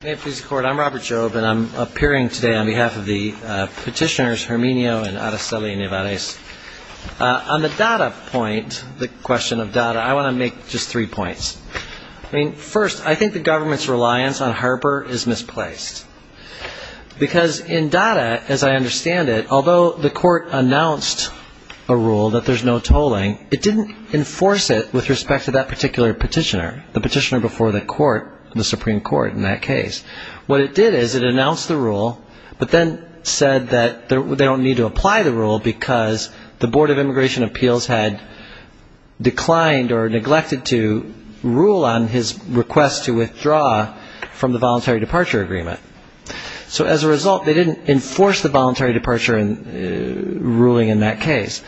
I'm Robert Jobe and I'm appearing today on behalf of the petitioners Herminio and Araceli Nevarez. On the data point, the question of data, I want to make just three points. First, I think the government's reliance on Harper is misplaced because in data, as I understand it, although the court announced a rule that there's no tolling, it didn't enforce it with respect to that particular petitioner, the petitioner before the court, the Supreme Court in that case. What it did is it announced the rule but then said that they don't need to apply the rule because the Board of Immigration Appeals had declined or neglected to rule on his request to withdraw from the voluntary departure agreement. So as a result, they didn't enforce the voluntary departure ruling in that case.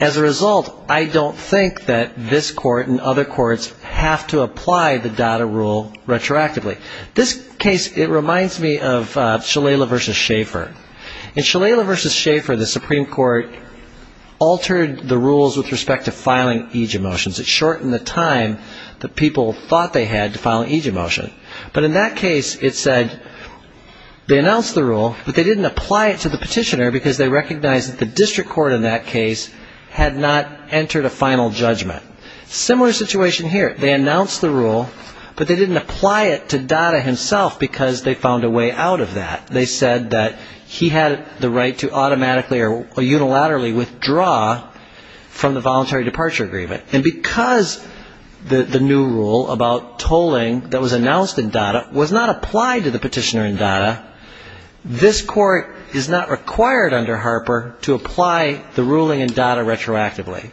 As a result, I don't think that this court and other courts have to apply the data rule retroactively. This case, it reminds me of Shalala v. Schaefer. In Shalala v. Schaefer, the Supreme Court altered the rules with respect to filing eejit motions. It shortened the time that people thought they had to file an eejit motion. But in that case, it said they announced the rule but they didn't apply it to the petitioner because they recognized that the district court in that case had not entered a final judgment. Similar situation here. They announced the rule but they didn't apply it to Dada himself because they found a way out of that. They said that he had the right to automatically or unilaterally withdraw from the voluntary departure agreement. And because the new rule about tolling that was announced in Dada was not applied to the petitioner in Dada, this court is not required under Harper to apply the ruling in Dada retroactively.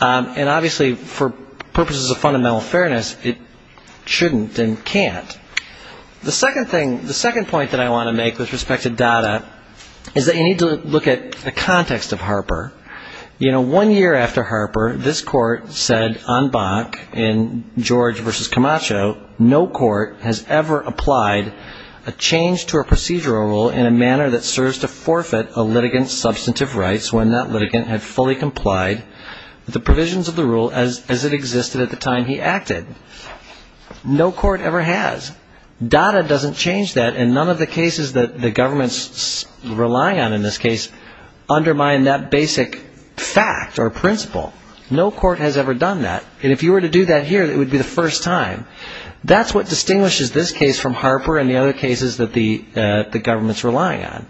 And obviously, for purposes of fundamental fairness, it shouldn't and can't. The second thing, the second point that I want to make with respect to Dada is that you need to look at the context of Harper. You know, one year after Harper, this court said en banc in George v. Camacho, no court has ever applied a change to a procedural rule in a manner that serves to forfeit a litigant's substantive rights when that litigant had fully complied with the provisions of the rule as it existed at the time he acted. No court ever has. Dada doesn't change that. And none of the cases that the government's relying on in this case undermine that basic fact or principle. No court has ever done that. And if you were to do that here, it would be the first time. That's what distinguishes this case from Harper and the other cases that the government's relying on.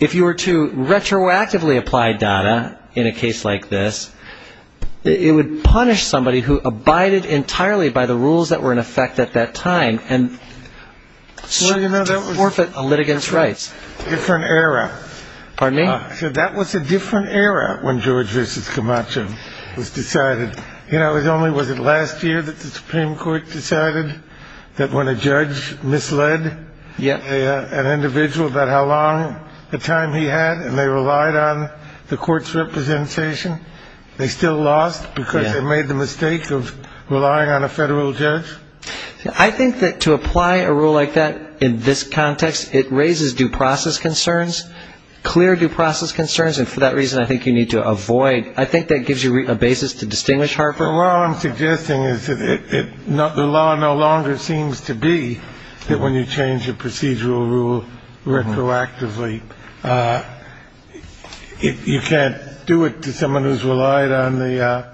If you were to retroactively apply Dada in a case like this, it would punish somebody who abided entirely by the rules that were in effect at that time and should forfeit a litigant's rights. Different era. Pardon me? I said that was a different era when George v. Camacho was decided. You know, it was only, was it last year that the Supreme Court decided that when a judge misled an individual about how long a time he had and they relied on the court's representation, they still lost because they made the mistake of relying on a federal judge? I think that to apply a rule like that in this context, it raises due process concerns, clear due process concerns. And for that reason, I think you need to avoid. I think that gives you a basis to distinguish Harper. Well, I'm suggesting is that the law no longer seems to be that when you change a procedural rule retroactively, you can't do it to someone who's relied on the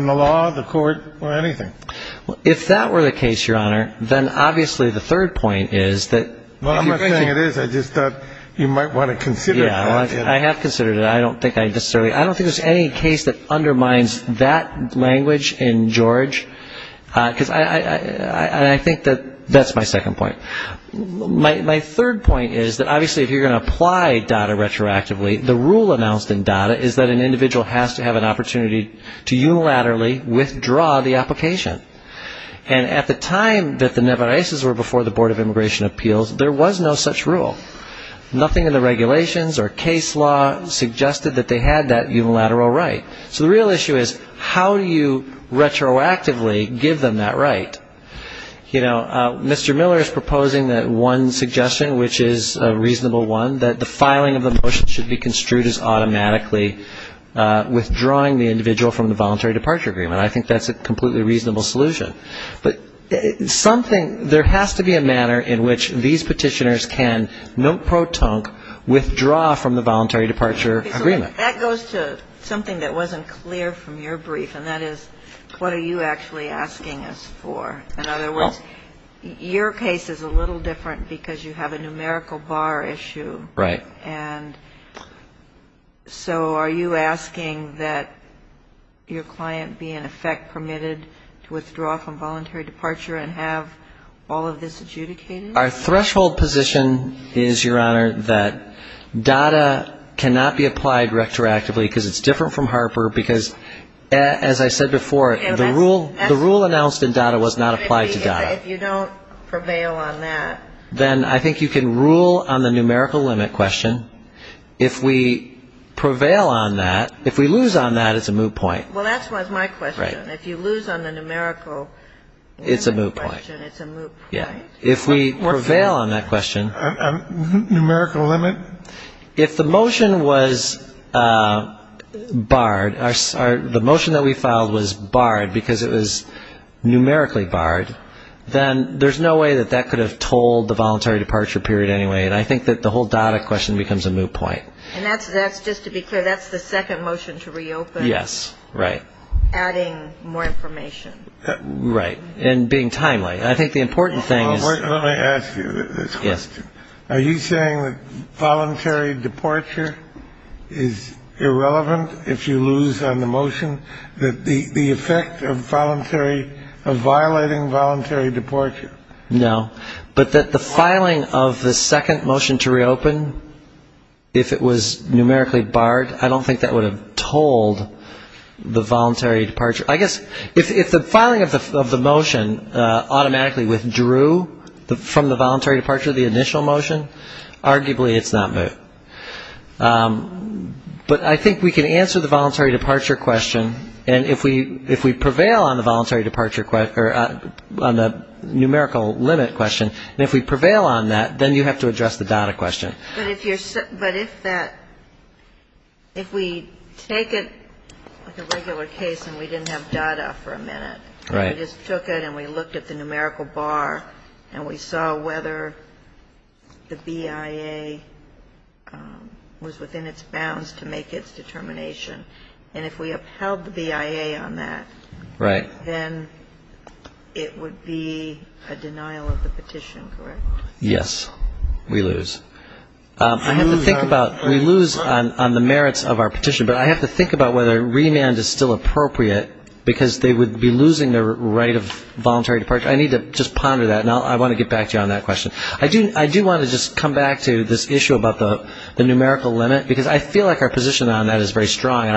law, the court or anything. Well, if that were the case, Your Honor, then obviously the third point is that. Well, I'm not saying it is. I just thought you might want to consider. I have considered it. I don't think there's any case that undermines that language in George. Because I think that that's my second point. My third point is that obviously if you're going to apply data retroactively, the rule announced in data is that an individual has to have an opportunity to unilaterally withdraw the application. And at the time that the Nevarices were before the Board of Immigration Appeals, there was no such rule. Nothing in the regulations or case law suggested that they had that unilateral right. So the real issue is how do you retroactively give them that right? You know, Mr. Miller is proposing that one suggestion, which is a reasonable one, that the filing of the motion should be construed as automatically withdrawing the individual from the voluntary departure agreement. I think that's a completely reasonable solution. But something, there has to be a manner in which these petitioners can, note pro tonque, withdraw from the voluntary departure agreement. That goes to something that wasn't clear from your brief, and that is what are you actually asking us for? In other words, your case is a little different because you have a numerical bar issue. Right. And so are you asking that your client be, in effect, permitted to withdraw from voluntary departure and have all of this adjudicated? Our threshold position is, Your Honor, that data cannot be applied retroactively because it's different from Harper, because as I said before, the rule announced in data was not applied to data. If you don't prevail on that. Then I think you can rule on the numerical limit question. If we prevail on that, if we lose on that, it's a moot point. Well, that was my question. If you lose on the numerical limit question, it's a moot point. Yeah. If we prevail on that question. Numerical limit? If the motion was barred, the motion that we filed was barred because it was numerically barred, then there's no way that that could have told the voluntary departure period anyway. And I think that the whole data question becomes a moot point. And that's just to be clear, that's the second motion to reopen. Yes. Right. Adding more information. Right. And being timely. I think the important thing is. Let me ask you this question. Yes. Are you saying that voluntary departure is irrelevant if you lose on the motion? That the effect of voluntary, of violating voluntary departure. No. But that the filing of the second motion to reopen, if it was numerically barred, I don't think that would have told the voluntary departure. I guess if the filing of the motion automatically withdrew from the voluntary departure, the initial motion, arguably it's not moot. But I think we can answer the voluntary departure question. And if we prevail on the voluntary departure, or on the numerical limit question, and if we prevail on that, then you have to address the data question. But if you're, but if that, if we take it like a regular case and we didn't have data for a minute. Right. We just took it and we looked at the numerical bar and we saw whether the BIA was within its bounds to make its determination. And if we upheld the BIA on that. Right. Then it would be a denial of the petition, correct? Yes. We lose. I have to think about, we lose on the merits of our petition, but I have to think about whether remand is still appropriate, because they would be losing their right of voluntary departure. I need to just ponder that, and I want to get back to you on that question. I do want to just come back to this issue about the numerical limit, because I feel like our position on that is very strong. And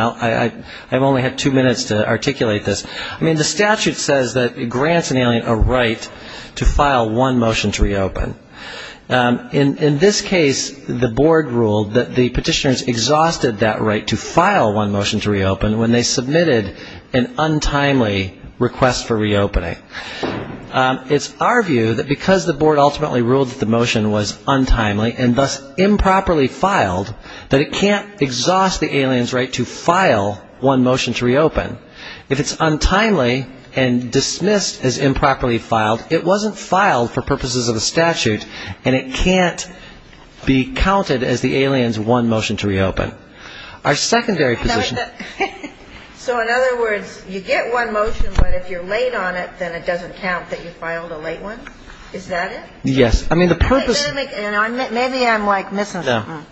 I've only had two minutes to articulate this. I mean, the statute says that it grants an alien a right to file one motion to reopen. In this case, the board ruled that the petitioners exhausted that right to file one motion to reopen when they submitted an untimely request for reopening. It's our view that because the board ultimately ruled that the motion was untimely and thus improperly filed, that it can't exhaust the alien's right to file one motion to reopen. If it's untimely and dismissed as improperly filed, it wasn't filed for purposes of the statute, and it can't be counted as the alien's one motion to reopen. Our secondary position --" So in other words, you get one motion, but if you're late on it, then it doesn't count that you filed a late one? Is that it? Yes. I mean, the purpose --" Maybe I'm, like, missing something.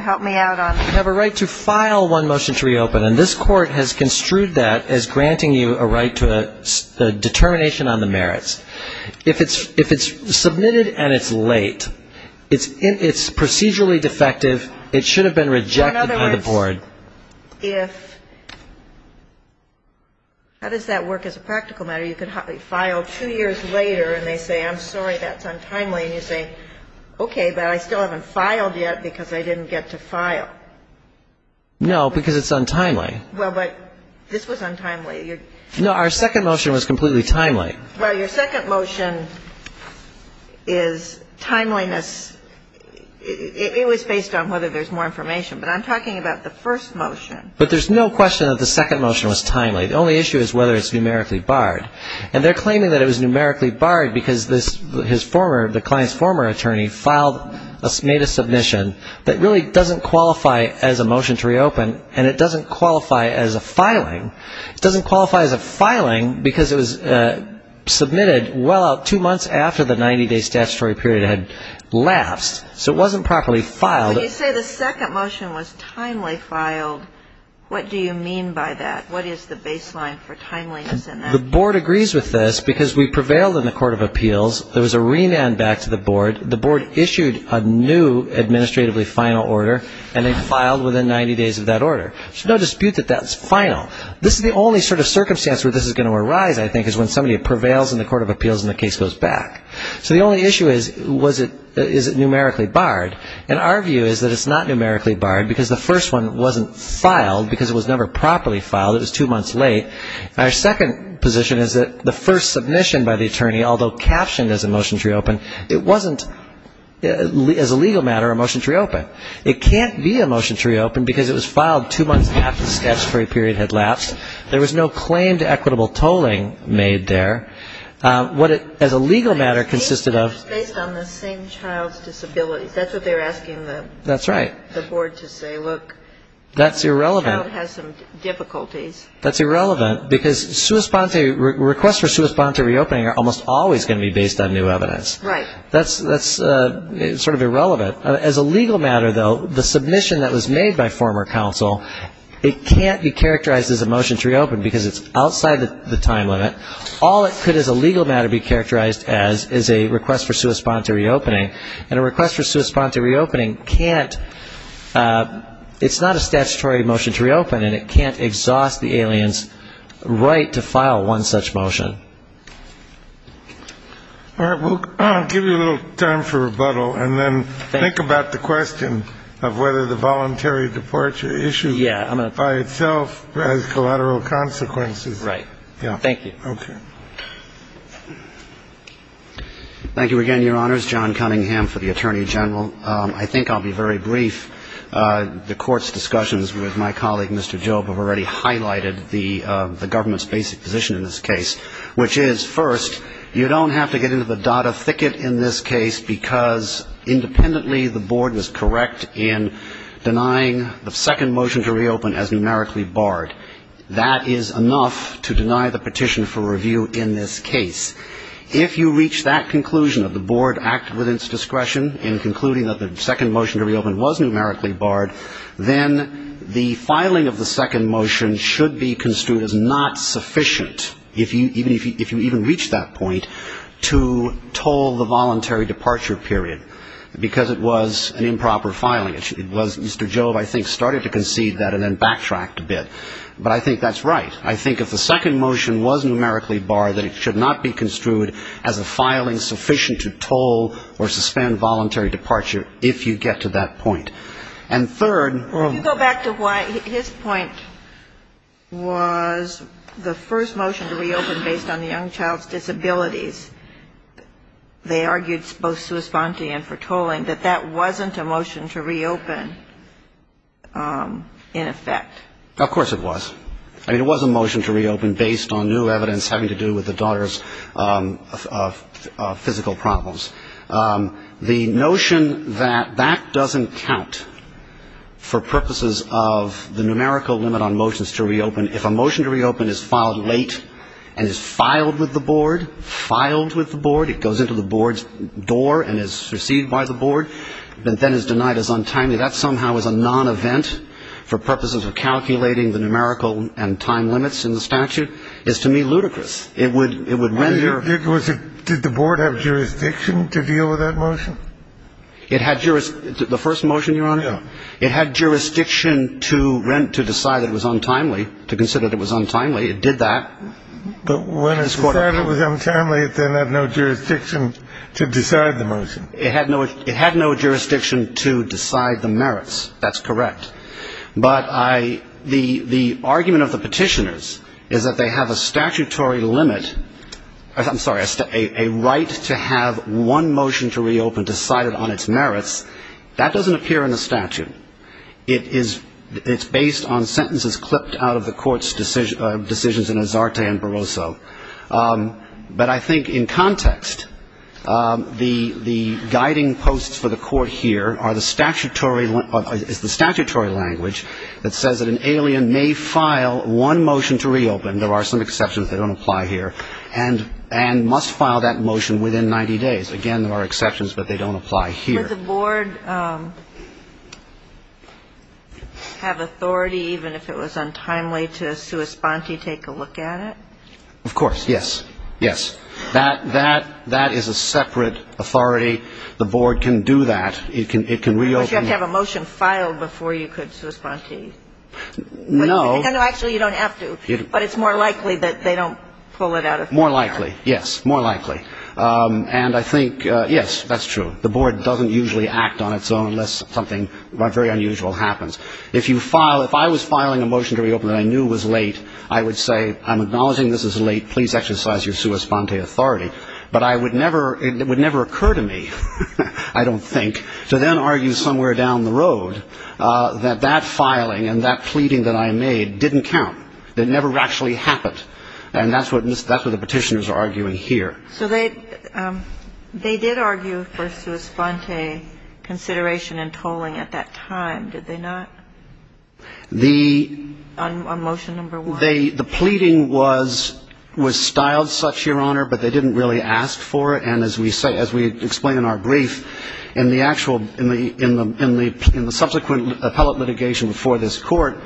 Help me out on that. You have a right to file one motion to reopen, and this Court has construed that as granting you a right to a determination on the merits. If it's submitted and it's late, it's procedurally defective. It should have been rejected by the board. In other words, if --" How does that work as a practical matter? You filed two years later, and they say, I'm sorry, that's untimely. And you say, okay, but I still haven't filed yet because I didn't get to file. No, because it's untimely. Well, but this was untimely. No, our second motion was completely timely. Well, your second motion is timeliness. It was based on whether there's more information. But I'm talking about the first motion. But there's no question that the second motion was timely. The only issue is whether it's numerically barred. And they're claiming that it was numerically barred because the client's former attorney made a submission that really doesn't qualify as a motion to reopen, and it doesn't qualify as a filing. It doesn't qualify as a filing because it was submitted well out two months after the 90-day statutory period had lapsed. So it wasn't properly filed. When you say the second motion was timely filed, what do you mean by that? What is the baseline for timeliness in that? The board agrees with this because we prevailed in the court of appeals. There was a remand back to the board. The board issued a new administratively final order, and they filed within 90 days of that order. There's no dispute that that's final. This is the only sort of circumstance where this is going to arise, I think, is when somebody prevails in the court of appeals and the case goes back. So the only issue is, is it numerically barred? And our view is that it's not numerically barred because the first one wasn't filed because it was never properly filed, it was two months late. Our second position is that the first submission by the attorney, although captioned as a motion to reopen, it wasn't, as a legal matter, a motion to reopen. It can't be a motion to reopen because it was filed two months after the statutory period had lapsed. There was no claim to equitable tolling made there. What it, as a legal matter, consisted of. Based on the same child's disabilities. That's what they were asking the board to say. That's irrelevant. The child has some difficulties. That's irrelevant because requests for sui sponte reopening are almost always going to be based on new evidence. Right. That's sort of irrelevant. As a legal matter, though, the submission that was made by former counsel, it can't be characterized as a motion to reopen because it's outside the time limit. All it could, as a legal matter, be characterized as is a request for sui sponte reopening. And a request for sui sponte reopening can't, it's not a statutory motion to reopen, and it can't exhaust the alien's right to file one such motion. All right. We'll give you a little time for rebuttal and then think about the question of whether the voluntary departure issue by itself has collateral consequences. Right. Thank you. Okay. Thank you again, Your Honors. John Cunningham for the Attorney General. I think I'll be very brief. The court's discussions with my colleague, Mr. Job, have already highlighted the government's basic position in this case, which is, first, you don't have to get into the data thicket in this case because independently, the board was correct in denying the second motion to reopen as numerically barred. That is enough to deny the petition for review in this case. If you reach that conclusion, that the board acted within its discretion in concluding that the second motion to reopen was numerically barred, then the filing of the second motion should be construed as not sufficient, if you even reach that point, to toll the voluntary departure period because it was an improper filing. It was Mr. Job, I think, started to concede that and then backtracked a bit. But I think that's right. I think if the second motion was numerically barred, then it should not be construed as a filing sufficient to toll or suspend voluntary departure, if you get to that point. And third ‑‑ Can you go back to why his point was the first motion to reopen based on the young child's disabilities, they argued both sui sponte and for tolling, that that wasn't a motion to reopen in effect. Of course it was. I mean, it was a motion to reopen based on new evidence having to do with the daughter's physical problems. The notion that that doesn't count for purposes of the numerical limit on motions to reopen, if a motion to reopen is filed late and is filed with the board, filed with the board, it goes into the board's door and is received by the board, but then is denied as untimely, that somehow is a nonevent for purposes of calculating the numerical and time limits in the statute, is to me ludicrous. It would render ‑‑ Did the board have jurisdiction to deal with that motion? The first motion, Your Honor? Yeah. It had jurisdiction to decide that it was untimely, to consider that it was untimely. It did that. But when it decided it was untimely, it then had no jurisdiction to decide the motion. It had no jurisdiction to decide the merits. That's correct. But the argument of the petitioners is that they have a statutory limit ‑‑ I'm sorry, a right to have one motion to reopen decided on its merits. That doesn't appear in the statute. It's based on sentences clipped out of the court's decisions in Azarte and Barroso. But I think in context, the guiding posts for the court here are the statutory ‑‑ it's the statutory language that says that an alien may file one motion to reopen, there are some exceptions that don't apply here, and must file that motion within 90 days. Again, there are exceptions, but they don't apply here. Does the board have authority, even if it was untimely, to sua sponte, take a look at it? Of course. Yes. Yes. That is a separate authority. The board can do that. It can reopen. But you have to have a motion filed before you could sua sponte. No. Actually, you don't have to. But it's more likely that they don't pull it out of ‑‑ More likely. Yes. More likely. And I think, yes, that's true. The board doesn't usually act on its own unless something very unusual happens. If you file ‑‑ if I was filing a motion to reopen that I knew was late, I would say, I'm acknowledging this is late, please exercise your sua sponte authority. But I would never ‑‑ it would never occur to me, I don't think, to then argue somewhere down the road that that filing and that pleading that I made didn't count. It never actually happened. And that's what the petitioners are arguing here. So they did argue for sua sponte consideration in tolling at that time, did they not? The ‑‑ On motion number one. The pleading was styled such, Your Honor, but they didn't really ask for it. And as we say ‑‑ as we explain in our brief, in the actual ‑‑ in the subsequent appellate litigation before this Court,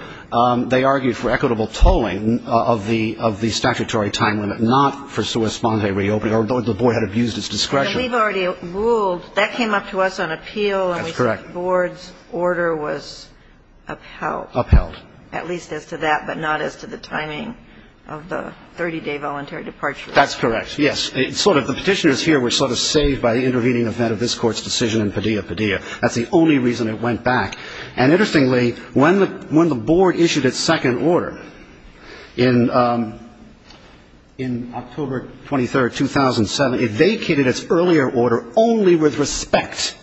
they argued for equitable tolling of the statutory time limit, not for sua sponte reopening, although the board had abused its discretion. We've already ruled ‑‑ that came up to us on appeal. That's correct. And we said the board's order was upheld. Upheld. At least as to that, but not as to the timing of the 30‑day voluntary departure. That's correct, yes. It's sort of ‑‑ the petitioners here were sort of saved by the intervening event of this Court's decision in Padilla, Padilla. That's the only reason it went back. And interestingly, when the board issued its second order in October 23rd, 2007, it vacated its earlier order only with respect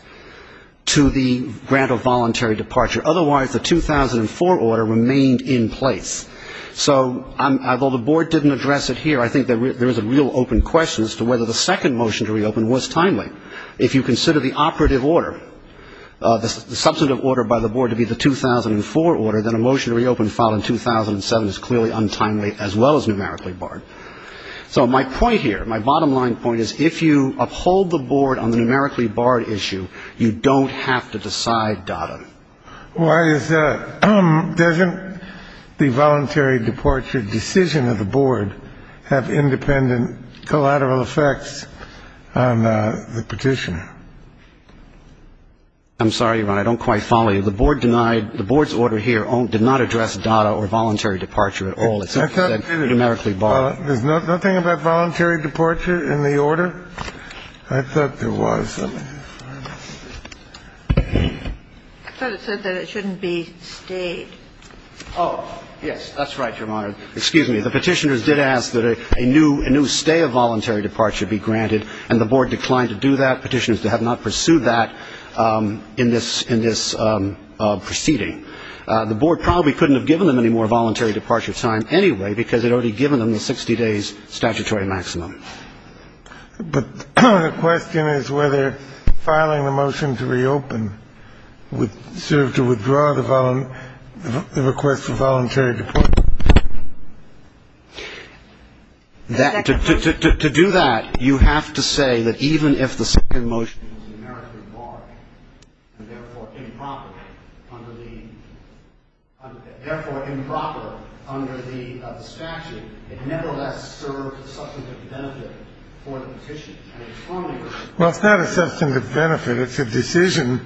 to the grant of voluntary departure. Otherwise, the 2004 order remained in place. So although the board didn't address it here, I think there was a real open question as to whether the second motion to reopen was timely. If you consider the operative order, the substantive order by the board to be the 2004 order, then a motion to reopen filed in 2007 is clearly untimely as well as numerically barred. So my point here, my bottom line point is if you uphold the board on the numerically barred issue, you don't have to decide data. Why is that? Doesn't the voluntary departure decision of the board have independent collateral effects on the petition? I'm sorry, Ron. I don't quite follow you. The board denied ‑‑ the board's order here did not address data or voluntary departure at all. It said numerically barred. There's nothing about voluntary departure in the order? I thought there was. I thought it said that it shouldn't be stayed. Oh, yes. That's right, Your Honor. Excuse me. The petitioners did ask that a new stay of voluntary departure be granted, and the board declined to do that. Petitioners have not pursued that in this proceeding. The board probably couldn't have given them any more voluntary departure time anyway because it had already given them the 60 days statutory maximum. But the question is whether filing a motion to reopen would serve to withdraw the request for voluntary departure. To do that, you have to say that even if the second motion is numerically barred and therefore improper under the statute, it nevertheless serves a substantive benefit for the petition. Well, it's not a substantive benefit. It's a decision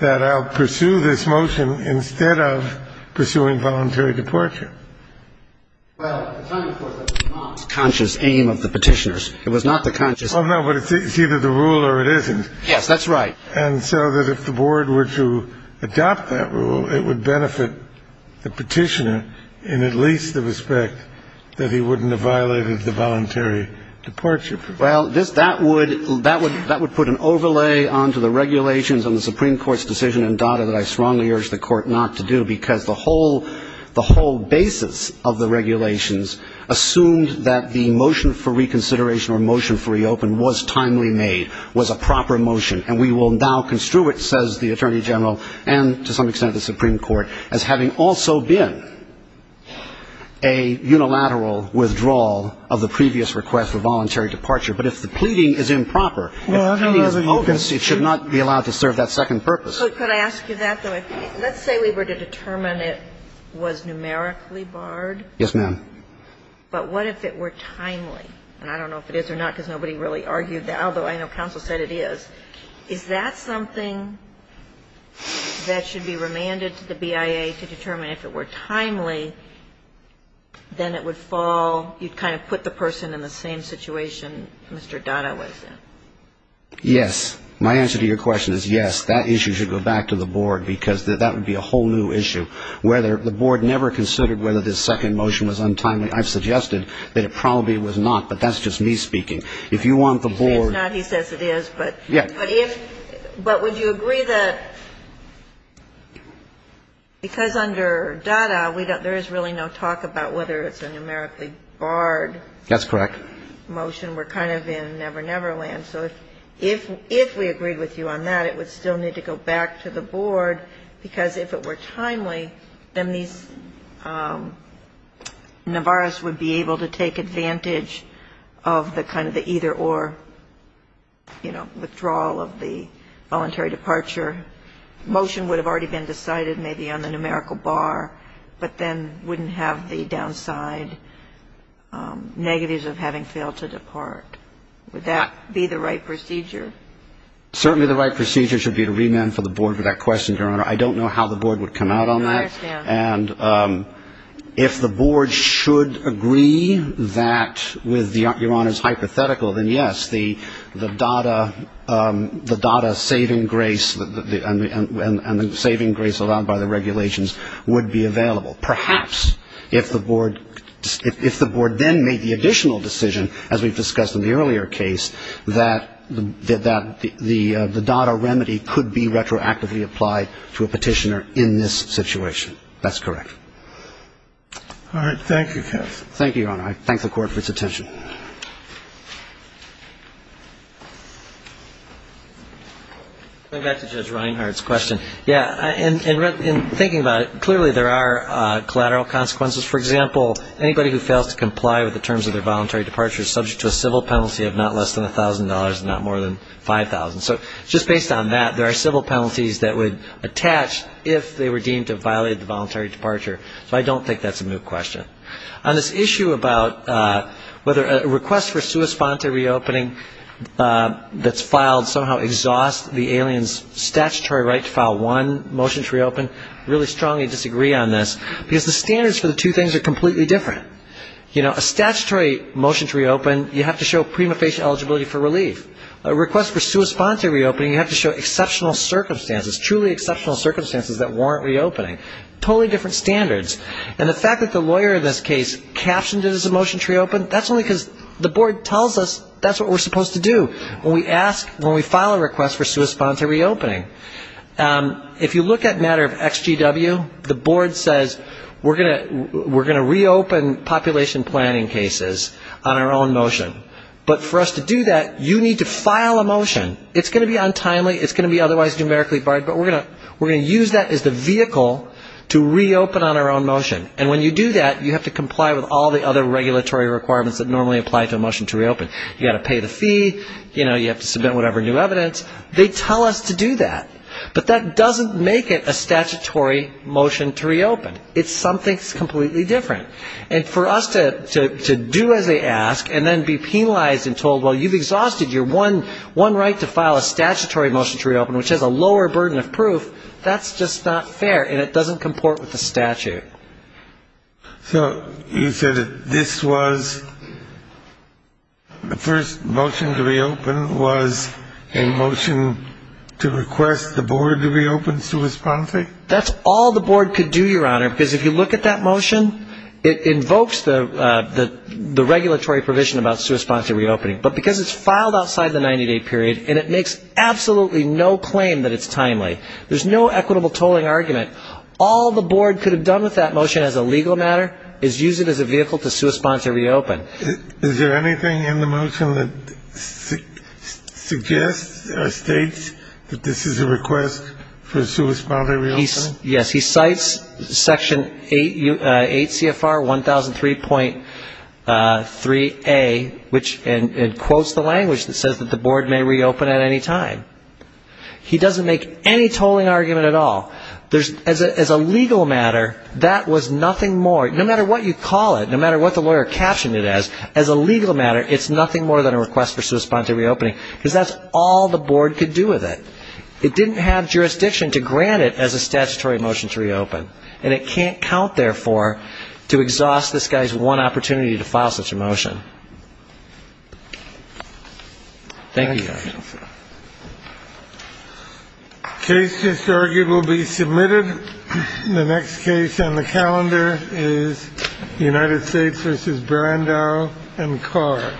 that I'll pursue this motion instead of pursuing voluntary departure. Well, I'm trying to force a not conscious aim of the petitioners. It was not the conscious ‑‑ Oh, no, but it's either the rule or it isn't. Yes, that's right. And so that if the board were to adopt that rule, it would benefit the petitioner in at least the respect that he wouldn't have violated the voluntary departure. Well, that would put an overlay onto the regulations on the Supreme Court's decision in Dada that I strongly urge the court not to do because the whole basis of the regulations assumed that the motion for reconsideration or motion for reopen was timely made, was a proper motion, and we will now construe it, says the Attorney General, and to some extent the Supreme Court, as having also been a unilateral withdrawal of the previous request for voluntary departure. But if the pleading is improper, if the pleading is bogus, it should not be allowed to serve that second purpose. So could I ask you that, though? Let's say we were to determine it was numerically barred. Yes, ma'am. But what if it were timely? And I don't know if it is or not because nobody really argued that, although I know counsel said it is. Is that something that should be remanded to the BIA to determine if it were timely, then it would fall, you'd kind of put the person in the same situation Mr. Dada was in? Yes. My answer to your question is yes. That issue should go back to the board because that would be a whole new issue. The board never considered whether this second motion was untimely. I've suggested that it probably was not, but that's just me speaking. If you want the board to. It's not. He says it is, but. Yes. But would you agree that because under Dada, there is really no talk about whether it's a numerically barred motion. That's correct. We're kind of in never-never land. So if we agreed with you on that, it would still need to go back to the board because if it were timely, then these, Navarro's would be able to take advantage of the kind of the either-or, you know, withdrawal of the voluntary departure. Motion would have already been decided maybe on the numerical bar, but then wouldn't have the downside negatives of having failed to depart. Would that be the right procedure? Certainly the right procedure should be to remand for the board for that question, Your Honor. I don't know how the board would come out on that. And if the board should agree that with Your Honor's hypothetical, then, yes, the Dada saving grace and the saving grace allowed by the regulations would be available. Perhaps if the board then made the additional decision, as we've discussed in the earlier case, that the Dada remedy could be retroactively applied to a petitioner in this situation. That's correct. All right. Thank you, counsel. Thank you, Your Honor. I thank the Court for its attention. Going back to Judge Reinhardt's question. Yeah. In thinking about it, clearly there are collateral consequences. For example, anybody who fails to comply with the terms of their voluntary departure is subject to a civil penalty of not less than $1,000 and not more than $5,000. So just based on that, there are civil penalties that would attach if they were deemed to have violated the voluntary departure. So I don't think that's a moot question. On this issue about whether a request for sua sponte reopening that's filed somehow exhausts the alien's statutory right to file one motion to reopen, I really strongly disagree on this because the standards for the two things are completely different. You know, a statutory motion to reopen, you have to show prima facie eligibility for relief. A request for sua sponte reopening, you have to show exceptional circumstances, truly exceptional circumstances that warrant reopening. Totally different standards. And the fact that the lawyer in this case captioned it as a motion to reopen, that's only because the board tells us that's what we're supposed to do when we ask, when we file a request for sua sponte reopening. If you look at matter of XGW, the board says we're going to reopen population planning cases on our own motion. But for us to do that, you need to file a motion. It's going to be untimely, it's going to be otherwise numerically barred, but we're going to use that as the vehicle to reopen on our own motion. And when you do that, you have to comply with all the other regulatory requirements that normally apply to a motion to reopen. You have to pay the fee, you have to submit whatever new evidence. They tell us to do that. But that doesn't make it a statutory motion to reopen. It's something that's completely different. And for us to do as they ask and then be penalized and told, well, you've exhausted your one right to file a statutory motion to reopen, which has a lower burden of proof, that's just not fair, and it doesn't comport with the statute. So you said that this was the first motion to reopen was a motion to request the board to reopen sui sponsi? That's all the board could do, Your Honor, because if you look at that motion, it invokes the regulatory provision about sui sponsi reopening. But because it's filed outside the 90-day period and it makes absolutely no claim that it's timely, there's no equitable tolling argument. All the board could have done with that motion as a legal matter is use it as a vehicle to sui sponsi reopen. Is there anything in the motion that suggests or states that this is a request for sui sponsi reopening? Yes, he cites Section 8 CFR 1003.3A and quotes the language that says that the board may reopen at any time. He doesn't make any tolling argument at all. As a legal matter, that was nothing more, no matter what you call it, no matter what the lawyer captioned it as, as a legal matter, it's nothing more than a request for sui sponsi reopening, because that's all the board could do with it. It didn't have jurisdiction to grant it as a statutory motion to reopen, and it can't count, therefore, to exhaust this guy's one opportunity to file such a motion. Thank you, Your Honor. The case just argued will be submitted. The next case on the calendar is United States v. Brandau and Carr.